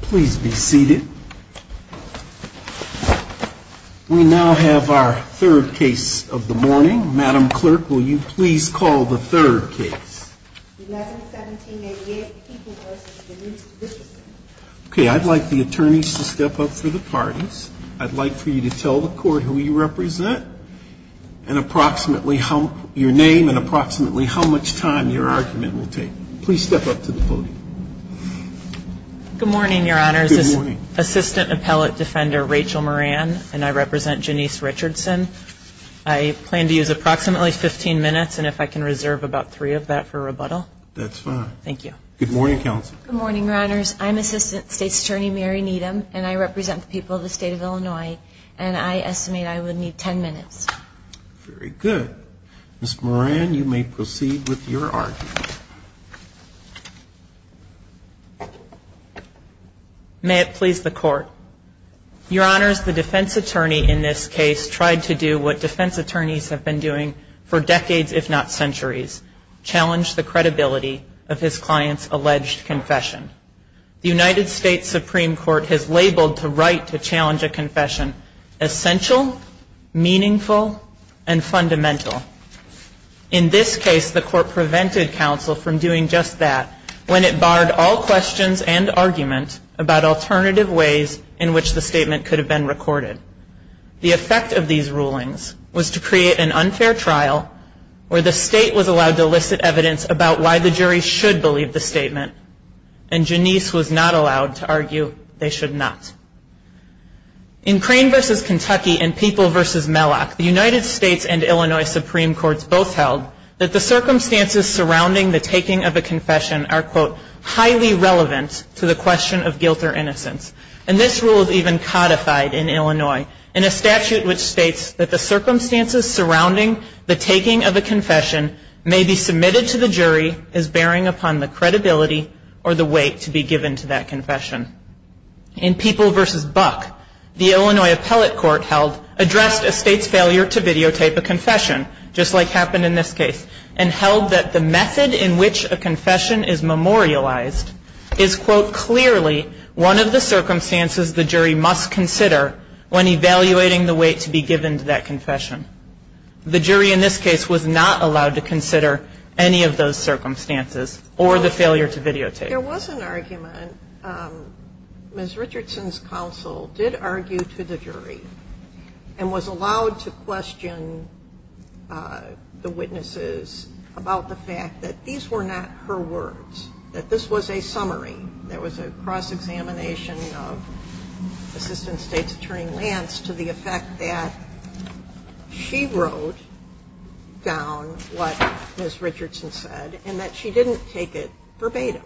Please be seated. We now have our third case of the morning. Madam Clerk, will you please call the third case? Okay, I'd like the attorneys to step up for the parties. I'd like for you to tell the court who you represent and approximately your name and approximately how much time your argument will take. Please step up to the podium. Good morning, Your Honors. This is Assistant Appellate Defender Rachel Moran, and I represent Janice Richardson. I plan to use approximately 15 minutes, and if I can reserve about three of that for rebuttal. That's fine. Thank you. Good morning, Counsel. Good morning, Your Honors. I'm Assistant State's Attorney Mary Needham, and I represent the people of the state of Illinois, and I estimate I will need 10 minutes. Very good. Ms. Moran, you may proceed with your argument. May it please the Court. Your Honors, the defense attorney in this case tried to do what defense attorneys have been doing for decades, if not centuries, challenge the credibility of his client's alleged confession. The United States Supreme Court has labeled the right to challenge a confession essential, meaningful, and fundamental. In this case, the Court prevented counsel from doing just that when it barred all questions and argument about alternative ways in which the statement could have been recorded. The effect of these rulings was to create an unfair trial where the state was allowed to elicit evidence about why the jury should believe the statement, and Janice was not allowed to argue they should not. In Crane v. Kentucky and People v. Mellock, the United States and Illinois Supreme Courts both held that the circumstances surrounding the taking of a confession are, quote, highly relevant to the question of guilt or innocence. And this rule is even codified in Illinois in a statute which states that the circumstances surrounding the taking of a confession may be submitted to the jury as bearing upon the credibility or the weight to be given to that confession. In People v. Buck, the Illinois Appellate Court held, addressed a state's failure to videotape a confession, just like happened in this case, and held that the method in which a confession is memorialized is, quote, clearly one of the circumstances the jury must consider when evaluating the weight to be given to that confession. The jury in this case was not allowed to consider any of those circumstances or the failure to videotape. There was an argument. Ms. Richardson's counsel did argue to the jury and was allowed to question the witnesses about the fact that these were not her words, that this was a summary. There was a cross-examination of Assistant State's Attorney Lance to the effect that she wrote down what Ms. Richardson said and that she didn't take it verbatim.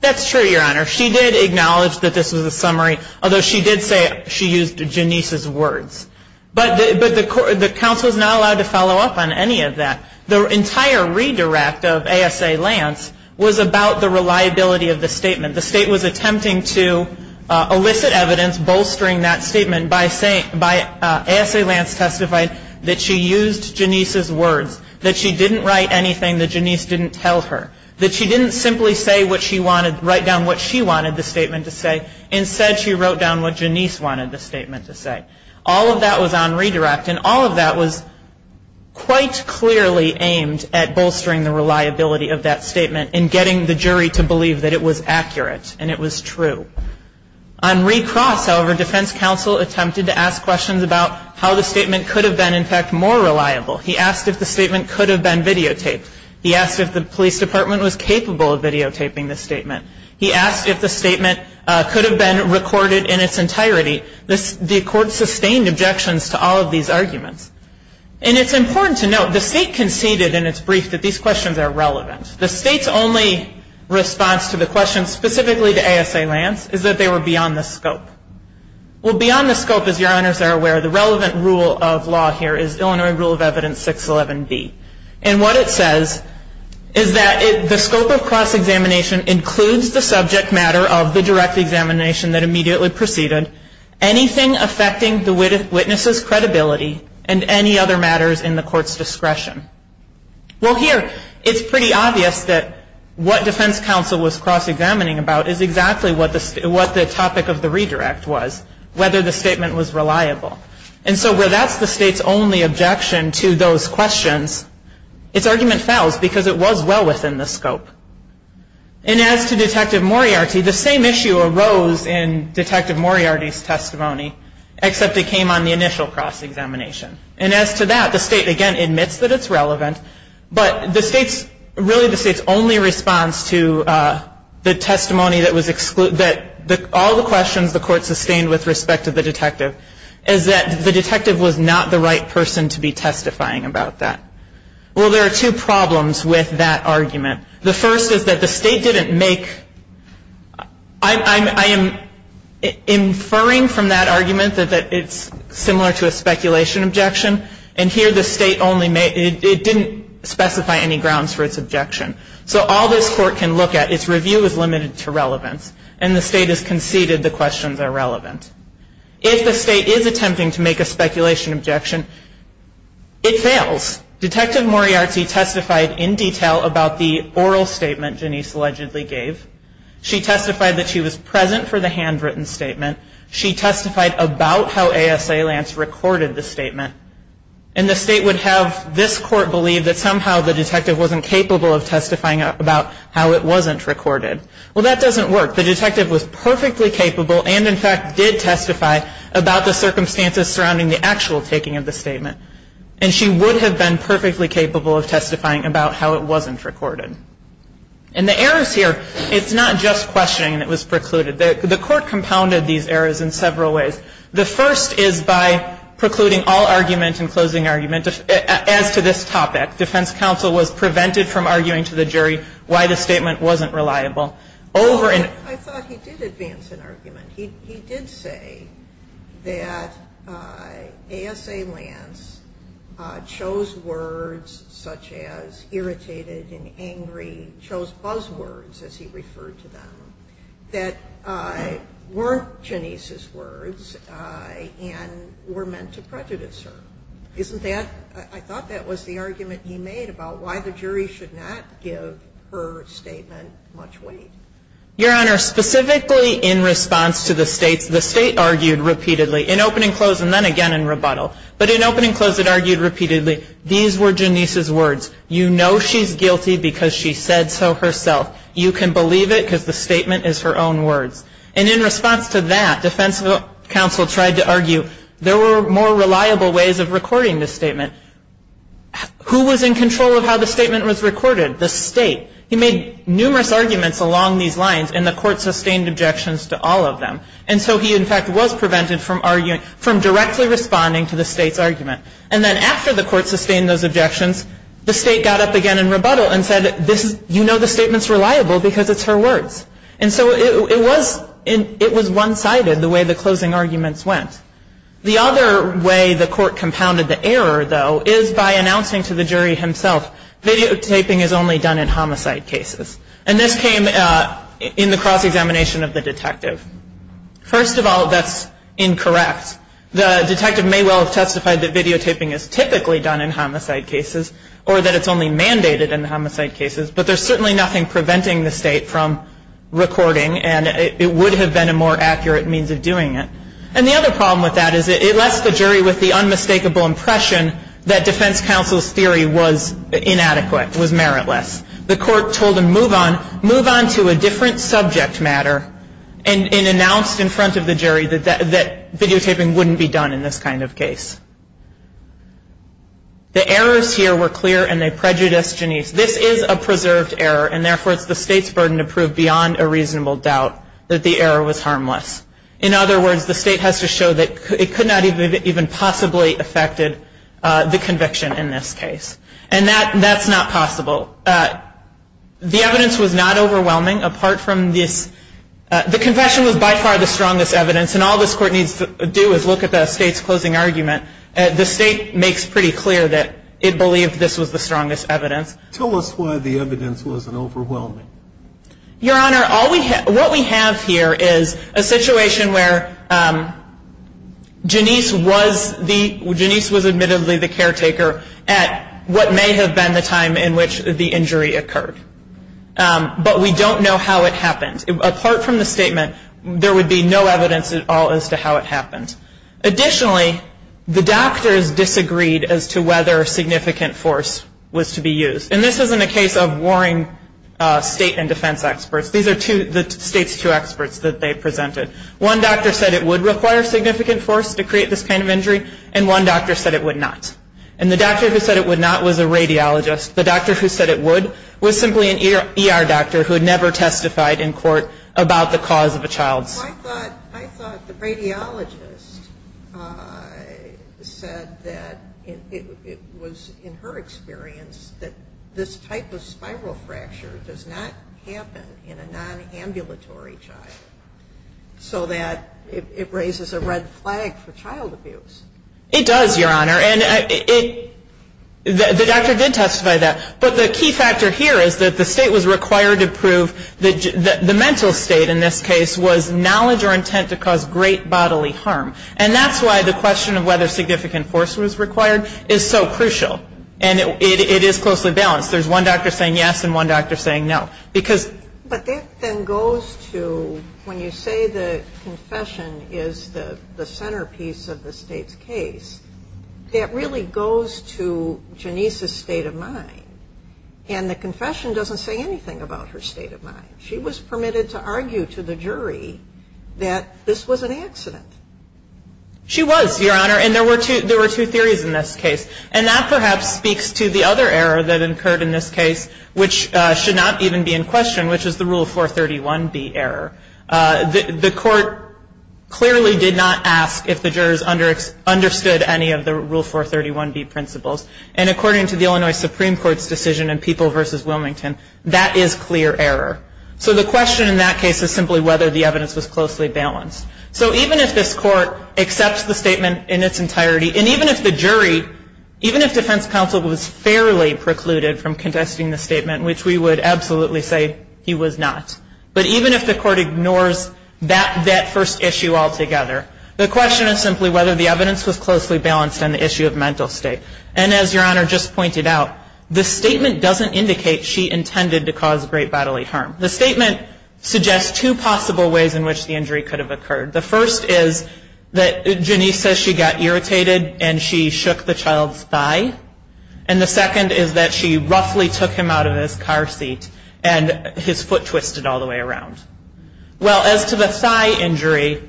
That's true, Your Honor. She did acknowledge that this was a summary, although she did say she used Janice's words. But the counsel is not allowed to follow up on any of that. The entire redirect of A.S.A. Lance was about the reliability of the statement. The State was attempting to elicit evidence bolstering that statement by saying by A.S.A. Lance testified that she used Janice's words, that she didn't write anything that Janice didn't tell her, that she didn't simply say what she wanted, write down what she wanted the statement to say. Instead, she wrote down what Janice wanted the statement to say. All of that was on redirect, and all of that was quite clearly aimed at bolstering the reliability of that statement and getting the jury to believe that it was accurate and it was true. On recross, however, defense counsel attempted to ask questions about how the statement could have been, in fact, more reliable. He asked if the statement could have been videotaped. He asked if the police department was capable of videotaping the statement. He asked if the statement could have been recorded in its entirety. The court sustained objections to all of these arguments. And it's important to note, the State conceded in its brief that these questions are relevant. The State's only response to the questions specifically to A.S.A. Lance is that they were beyond the scope. Well, beyond the scope, as your honors are aware, the relevant rule of law here is Illinois Rule of Evidence 611B. And what it says is that the scope of cross-examination includes the subject matter of the direct examination that immediately preceded, anything affecting the witness's credibility, and any other matters in the court's discretion. Well, here, it's pretty obvious that what defense counsel was cross-examining about is exactly what the topic of the redirect was, whether the statement was reliable. And so where that's the State's only objection to those questions, its argument falls because it was well within the scope. And as to Detective Moriarty, the same issue arose in Detective Moriarty's testimony, except it came on the initial cross-examination. And as to that, the State, again, admits that it's relevant, but really the State's only response to the testimony that all the questions the court sustained with respect to the detective is that the detective was not the right person to be testifying about that. Well, there are two problems with that argument. The first is that the State didn't make – I am inferring from that argument that it's similar to a speculation objection, and here the State only – it didn't specify any grounds for its objection. So all this court can look at, its review is limited to relevance, and the State has conceded the questions are relevant. If the State is attempting to make a speculation objection, it fails. Next, Detective Moriarty testified in detail about the oral statement Janice allegedly gave. She testified that she was present for the handwritten statement. She testified about how ASA Lance recorded the statement. And the State would have this court believe that somehow the detective wasn't capable of testifying about how it wasn't recorded. Well, that doesn't work. The detective was perfectly capable and, in fact, did testify about the circumstances surrounding the actual taking of the statement. And she would have been perfectly capable of testifying about how it wasn't recorded. And the errors here, it's not just questioning that was precluded. The court compounded these errors in several ways. The first is by precluding all argument and closing argument as to this topic. Defense counsel was prevented from arguing to the jury why the statement wasn't reliable. I thought he did advance an argument. He did say that ASA Lance chose words such as irritated and angry, chose buzzwords, as he referred to them, that weren't Janice's words and were meant to prejudice her. I thought that was the argument he made about why the jury should not give her statement much weight. Your Honor, specifically in response to the States, the State argued repeatedly, in opening, close, and then again in rebuttal. But in opening, close, it argued repeatedly, these were Janice's words. You know she's guilty because she said so herself. You can believe it because the statement is her own words. And in response to that, defense counsel tried to argue there were more reliable ways of recording this statement. Who was in control of how the statement was recorded? The State. He made numerous arguments along these lines, and the court sustained objections to all of them. And so he, in fact, was prevented from directly responding to the State's argument. And then after the court sustained those objections, the State got up again in rebuttal and said, you know the statement's reliable because it's her words. And so it was one-sided, the way the closing arguments went. The other way the court compounded the error, though, is by announcing to the jury himself, videotaping is only done in homicide cases. And this came in the cross-examination of the detective. First of all, that's incorrect. The detective may well have testified that videotaping is typically done in homicide cases, or that it's only mandated in homicide cases. But there's certainly nothing preventing the State from recording, and it would have been a more accurate means of doing it. And the other problem with that is it left the jury with the unmistakable impression that defense counsel's theory was inadequate, was meritless. The court told him, move on, move on to a different subject matter, and announced in front of the jury that videotaping wouldn't be done in this kind of case. The errors here were clear, and they prejudiced Janisse. This is a preserved error, and therefore it's the State's burden to prove beyond a reasonable doubt that the error was harmless. In other words, the State has to show that it could not have even possibly affected the conviction in this case. And that's not possible. The evidence was not overwhelming, apart from this. The confession was by far the strongest evidence, and all this court needs to do is look at the State's closing argument. The State makes pretty clear that it believed this was the strongest evidence. Tell us why the evidence wasn't overwhelming. Your Honor, what we have here is a situation where Janisse was admittedly the caretaker at what may have been the time in which the injury occurred. But we don't know how it happened. Apart from the statement, there would be no evidence at all as to how it happened. Additionally, the doctors disagreed as to whether significant force was to be used. And this isn't a case of warring State and defense experts. These are the State's two experts that they presented. One doctor said it would require significant force to create this kind of injury, and one doctor said it would not. And the doctor who said it would not was a radiologist. The doctor who said it would was simply an ER doctor who had never testified in court about the cause of a child's... Well, I thought the radiologist said that it was in her experience that this type of spiral fracture does not happen in a nonambulatory child, so that it raises a red flag for child abuse. It does, Your Honor. But the key factor here is that the State was required to prove that the mental state in this case was knowledge or intent to cause great bodily harm. And that's why the question of whether significant force was required is so crucial. And it is closely balanced. There's one doctor saying yes and one doctor saying no. But that then goes to, when you say the confession is the centerpiece of the State's case, that really goes to Janice's state of mind. And the confession doesn't say anything about her state of mind. She was permitted to argue to the jury that this was an accident. She was, Your Honor, and there were two theories in this case. And that perhaps speaks to the other error that occurred in this case, which should not even be in question, which is the Rule 431B error. The court clearly did not ask if the jurors understood any of the Rule 431B principles. And according to the Illinois Supreme Court's decision in People v. Wilmington, that is clear error. So the question in that case is simply whether the evidence was closely balanced. So even if this Court accepts the statement in its entirety, and even if the jury, even if defense counsel was fairly precluded from contesting the statement, which we would absolutely say he was not, but even if the Court ignores that first issue altogether, the question is simply whether the evidence was closely balanced on the issue of mental state. And as Your Honor just pointed out, the statement doesn't indicate she intended to cause great bodily harm. The statement suggests two possible ways in which the injury could have occurred. The first is that Janice says she got irritated and she shook the child's thigh. And the second is that she roughly took him out of his car seat and his foot twisted all the way around. Well, as to the thigh injury,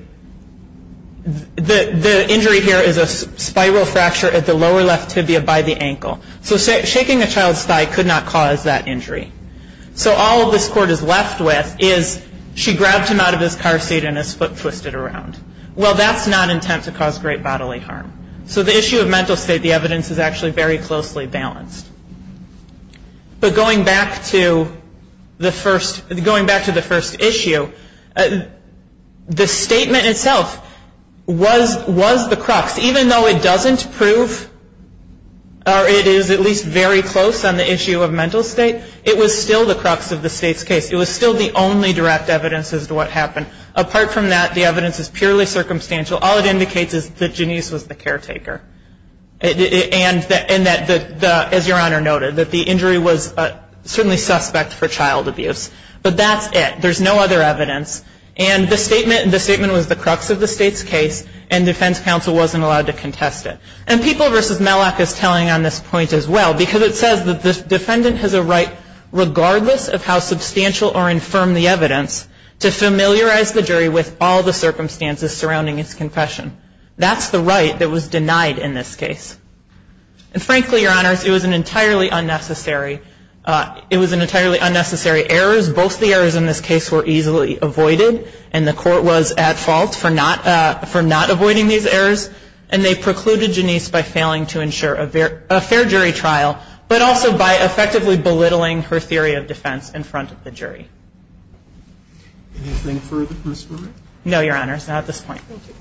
the injury here is a spiral fracture at the lower left tibia by the ankle. So shaking a child's thigh could not cause that injury. So all this Court is left with is she grabbed him out of his car seat and his foot twisted around. Well, that's not intent to cause great bodily harm. So the issue of mental state, the evidence is actually very closely balanced. But going back to the first issue, the statement itself was the crux. Even though it doesn't prove, or it is at least very close on the issue of mental state, it was still the crux of the state's case. It was still the only direct evidence as to what happened. Apart from that, the evidence is purely circumstantial. All it indicates is that Janice was the caretaker and that, as Your Honor noted, that the injury was certainly suspect for child abuse. But that's it. There's no other evidence. And the statement was the crux of the state's case, and defense counsel wasn't allowed to contest it. And People v. Mellack is telling on this point as well, because it says that the defendant has a right, regardless of how substantial or infirm the evidence, to familiarize the jury with all the circumstances surrounding its confession. That's the right that was denied in this case. And frankly, Your Honors, it was an entirely unnecessary error. Both the errors in this case were easily avoided, and the court was at fault for not avoiding these errors. And they precluded Janice by failing to ensure a fair jury trial, but also by effectively belittling her theory of defense in front of the jury. Anything further, Ms. Brewer? No, Your Honors. Not at this point. Thank you.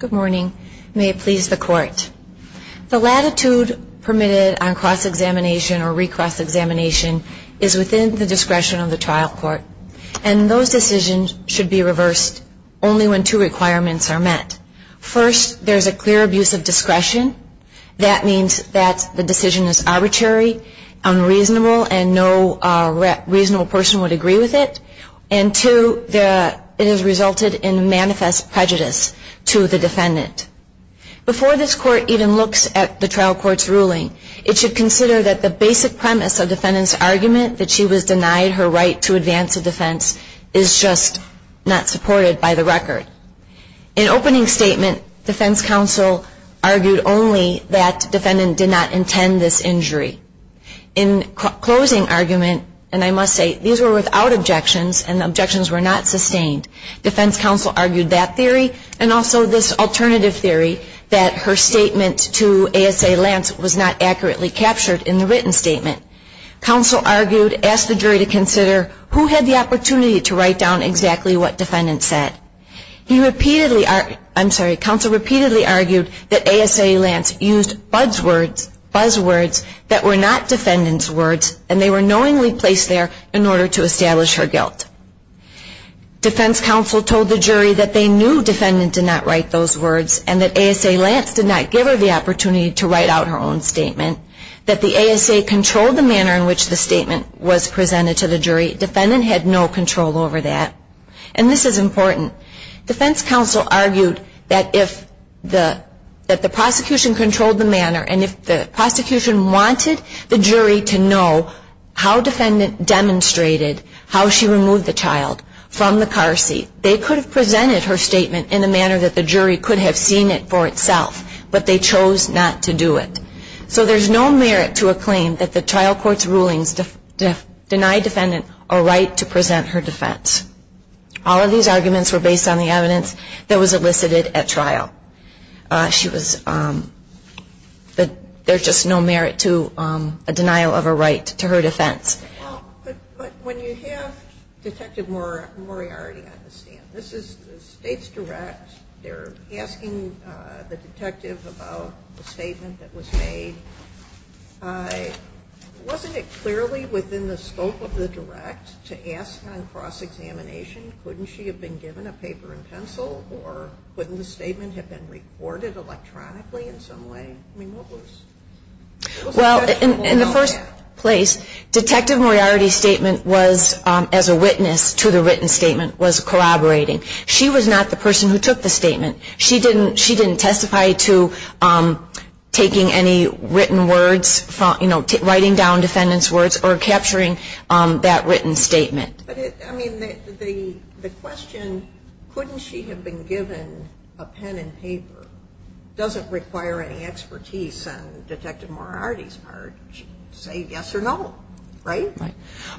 Good morning. May it please the Court. The latitude permitted on cross-examination or re-cross-examination is within the discretion of the trial court. And those decisions should be reversed only when two requirements are met. First, there's a clear abuse of discretion. That means that the decision is arbitrary, unreasonable, and no reasonable person would agree with it. And two, it has resulted in manifest prejudice to the defendant. Before this Court even looks at the trial court's ruling, it should consider that the basic premise of the defendant's argument, that she was denied her right to advance a defense, is just not supported by the record. In opening statement, defense counsel argued only that defendant did not intend this injury. In closing argument, and I must say, these were without objections and the objections were not sustained. Defense counsel argued that theory and also this alternative theory that her statement to ASA Lance was not accurately captured in the written statement. Counsel argued, asked the jury to consider who had the opportunity to write down exactly what defendant said. He repeatedly, I'm sorry, counsel repeatedly argued that ASA Lance used buzz words that were not defendant's words and they were knowingly placed there in order to establish her guilt. Defense counsel told the jury that they knew defendant did not write those words and that ASA Lance did not give her the opportunity to write out her own statement, that the ASA controlled the manner in which the statement was presented to the jury. Defendant had no control over that. And this is important. Defense counsel argued that if the prosecution controlled the manner and if the prosecution wanted the jury to know how defendant demonstrated how she removed the child from the car seat, they could have presented her statement in a manner that the jury could have seen it for itself, but they chose not to do it. So there's no merit to a claim that the trial court's rulings deny defendant a right to present her defense. All of these arguments were based on the evidence that was elicited at trial. She was, there's just no merit to a denial of a right to her defense. But when you have Detective Moriarty on the stand, this is the state's direct, they're asking the detective about the statement that was made. Wasn't it clearly within the scope of the direct to ask on cross-examination, couldn't she have been given a paper and pencil or couldn't the statement have been recorded electronically in some way? I mean, what was the question? Well, in the first place, Detective Moriarty's statement was, as a witness to the written statement, was corroborating. She was not the person who took the statement. She didn't testify to taking any written words, you know, writing down defendant's words or capturing that written statement. But, I mean, the question, couldn't she have been given a pen and paper, doesn't require any expertise on Detective Moriarty's part to say yes or no, right? Right.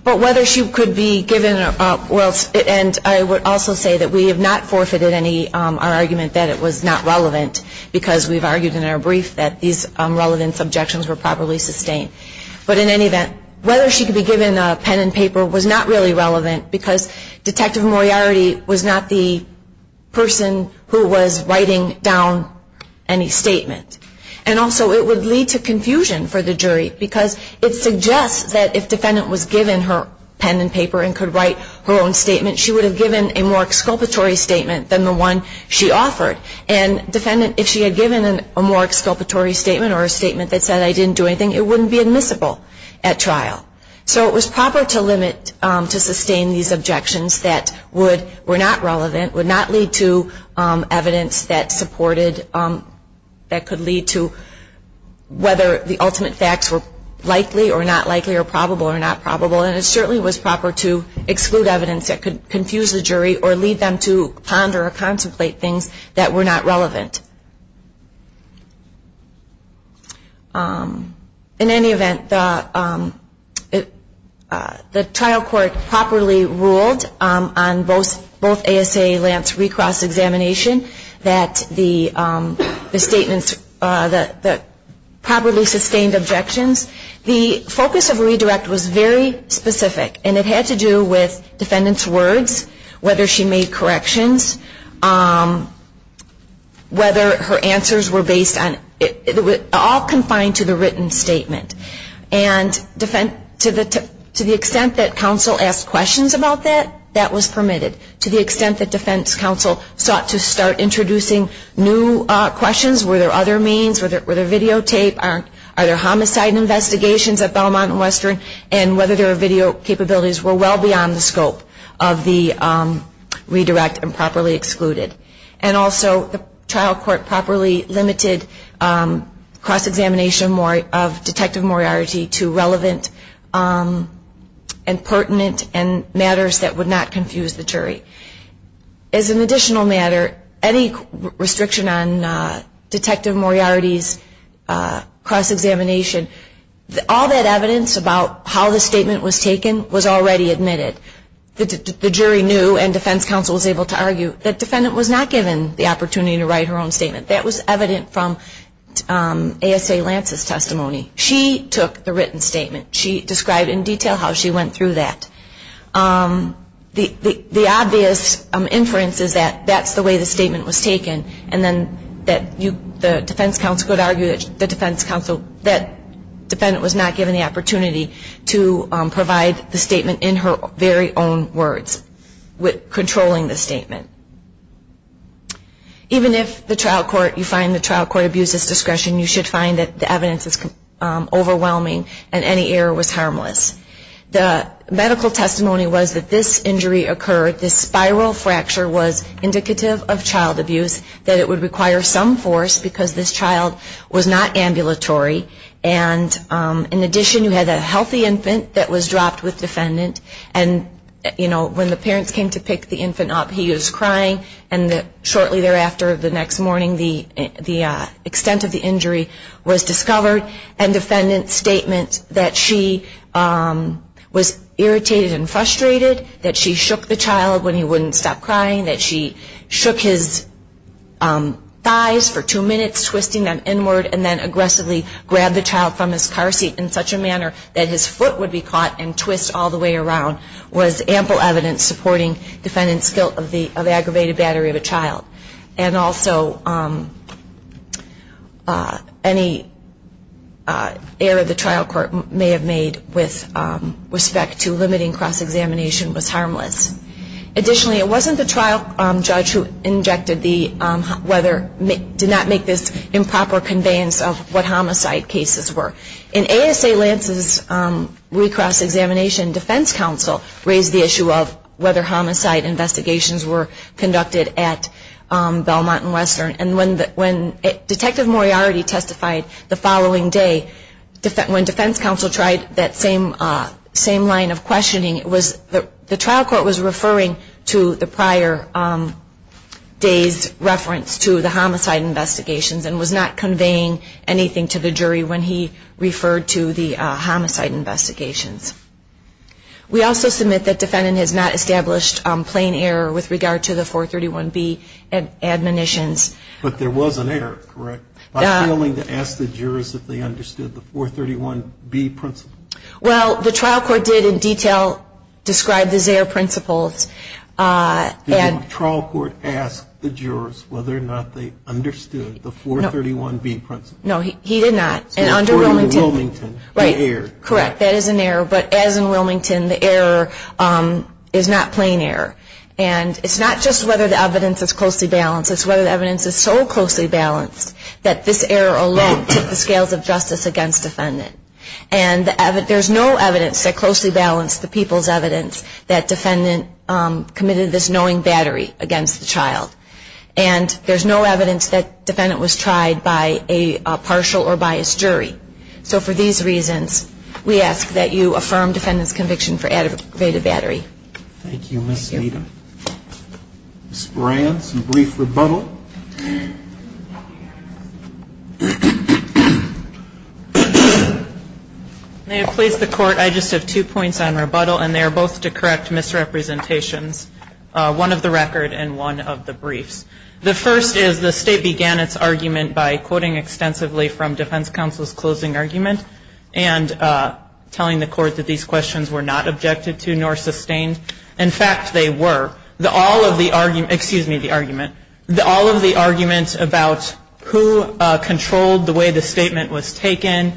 But whether she could be given, and I would also say that we have not forfeited our argument that it was not relevant because we've argued in our brief that these relevant objections were properly sustained. But in any event, whether she could be given a pen and paper was not really relevant because Detective Moriarty was not the person who was writing down any statement. So it was proper to limit to sustain these objections that were not relevant, would not lead to evidence that supported, that could lead to whether the ultimate facts were correct. And I think it's a good argument to make. And it certainly was proper to exclude evidence that could confuse the jury or lead them to ponder or contemplate things that were not relevant. In any event, the trial court properly ruled on both ASA Lance recross examination that the statements, the properly sustained objections, the focus of redirect was very specific. And it had to do with defendant's words, whether she made corrections, whether her answers were based on, all confined to the written statement. And to the extent that counsel asked questions about that, that was permitted. To the extent that defense counsel sought to start introducing new questions. Were there other means? Were there videotape? Are there homicide investigations at Belmont and Western? And whether there are video capabilities were well beyond the scope of the redirect and properly excluded. And also the trial court properly limited cross examination of Detective Moriarty to relevant and pertinent and matters that would not confuse the jury. As an additional matter, any restriction on Detective Moriarty's cross examination, all that evidence about how the statement was taken was already admitted. The jury knew and defense counsel was able to argue that defendant was not given the opportunity to write her own statement. That was evident from ASA Lance's testimony. She took the written statement. She described in detail how she went through that. The obvious inference is that that's the way the statement was taken and then the defense counsel could argue that the defense counsel, that defendant was not given the opportunity to provide the statement in her very own words, controlling the statement. Even if the trial court, you find the trial court abuses discretion, you should find that the evidence is overwhelming and any error was harmless. The medical testimony was that this injury occurred, this spiral fracture was indicative of child abuse, that it would require some force because this child was not ambulatory. And in addition, you had a healthy infant that was dropped with defendant. And, you know, when the parents came to pick the infant up, he was crying. And shortly thereafter, the next morning, the extent of the injury was discovered. And defendant's statement that she was irritated and frustrated, that she shook the child when he wouldn't stop crying, that she shook his thighs for two minutes, twisting them inward, and then aggressively grabbed the child from his car seat in such a manner that his foot would be caught and twist all the way around, was ample evidence supporting defendant's guilt of aggravated battery of a child. And also, any error the trial court may have made with respect to limiting cross-examination was harmless. Additionally, it wasn't the trial judge who injected the, did not make this improper conveyance of what homicide cases were. In ASA Lance's re-cross-examination, defense counsel raised the issue of whether homicide investigations were conducted at Belmont and Western. And when Detective Moriarty testified the following day, when defense counsel tried that same line of questioning, the trial court was referring to the prior day's reference to the homicide investigations and was not conveying anything to the jury when he referred to the homicide investigations. We also submit that defendant has not established plain error with regard to the 431B admonitions. But there was an error, correct? By failing to ask the jurors if they understood the 431B principles? Well, the trial court did in detail describe the Zayer principles. Did the trial court ask the jurors whether or not they understood the 431B principles? No, he did not. According to Wilmington, they erred. Correct, that is an error. But as in Wilmington, the error is not plain error. And it's not just whether the evidence is closely balanced. It's whether the evidence is so closely balanced that this error alone took the scales of justice against defendant. And there's no evidence that closely balanced the people's evidence that defendant committed this knowing battery against the child. And there's no evidence that defendant was tried by a partial or biased jury. So for these reasons, we ask that you affirm defendant's conviction for aggravated battery. Thank you, Ms. Smeda. Ms. Moran, some brief rebuttal. May it please the Court, I just have two points on rebuttal, and they are both to correct misrepresentations, one of the record and one of the briefs. The first is the State began its argument by quoting extensively from defense counsel's closing argument and telling the Court that these questions were not objected to nor sustained. In fact, they were. All of the argument, excuse me, the argument. All of the arguments about who controlled the way the statement was taken,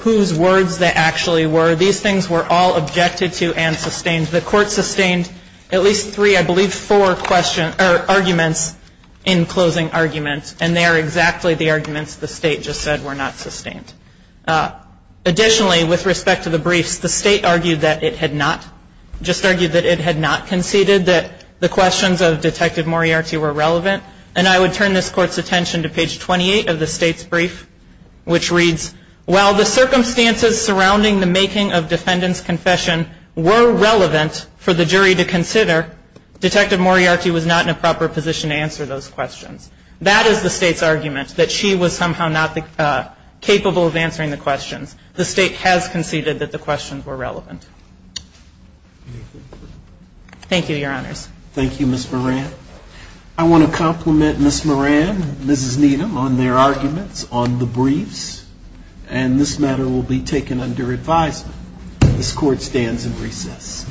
whose words they actually were, these things were all objected to and sustained. The Court sustained at least three, I believe, four questions or arguments in closing arguments, and they are exactly the arguments the State just said were not sustained. Additionally, with respect to the briefs, the State argued that it had not, conceded that the questions of Detective Moriarty were relevant, and I would turn this Court's attention to page 28 of the State's brief, which reads, while the circumstances surrounding the making of defendant's confession were relevant for the jury to consider, Detective Moriarty was not in a proper position to answer those questions. That is the State's argument, that she was somehow not capable of answering the questions. The State has conceded that the questions were relevant. Thank you, Your Honors. Thank you, Ms. Moran. I want to compliment Ms. Moran and Mrs. Needham on their arguments on the briefs, and this matter will be taken under advisement. This Court stands in recess.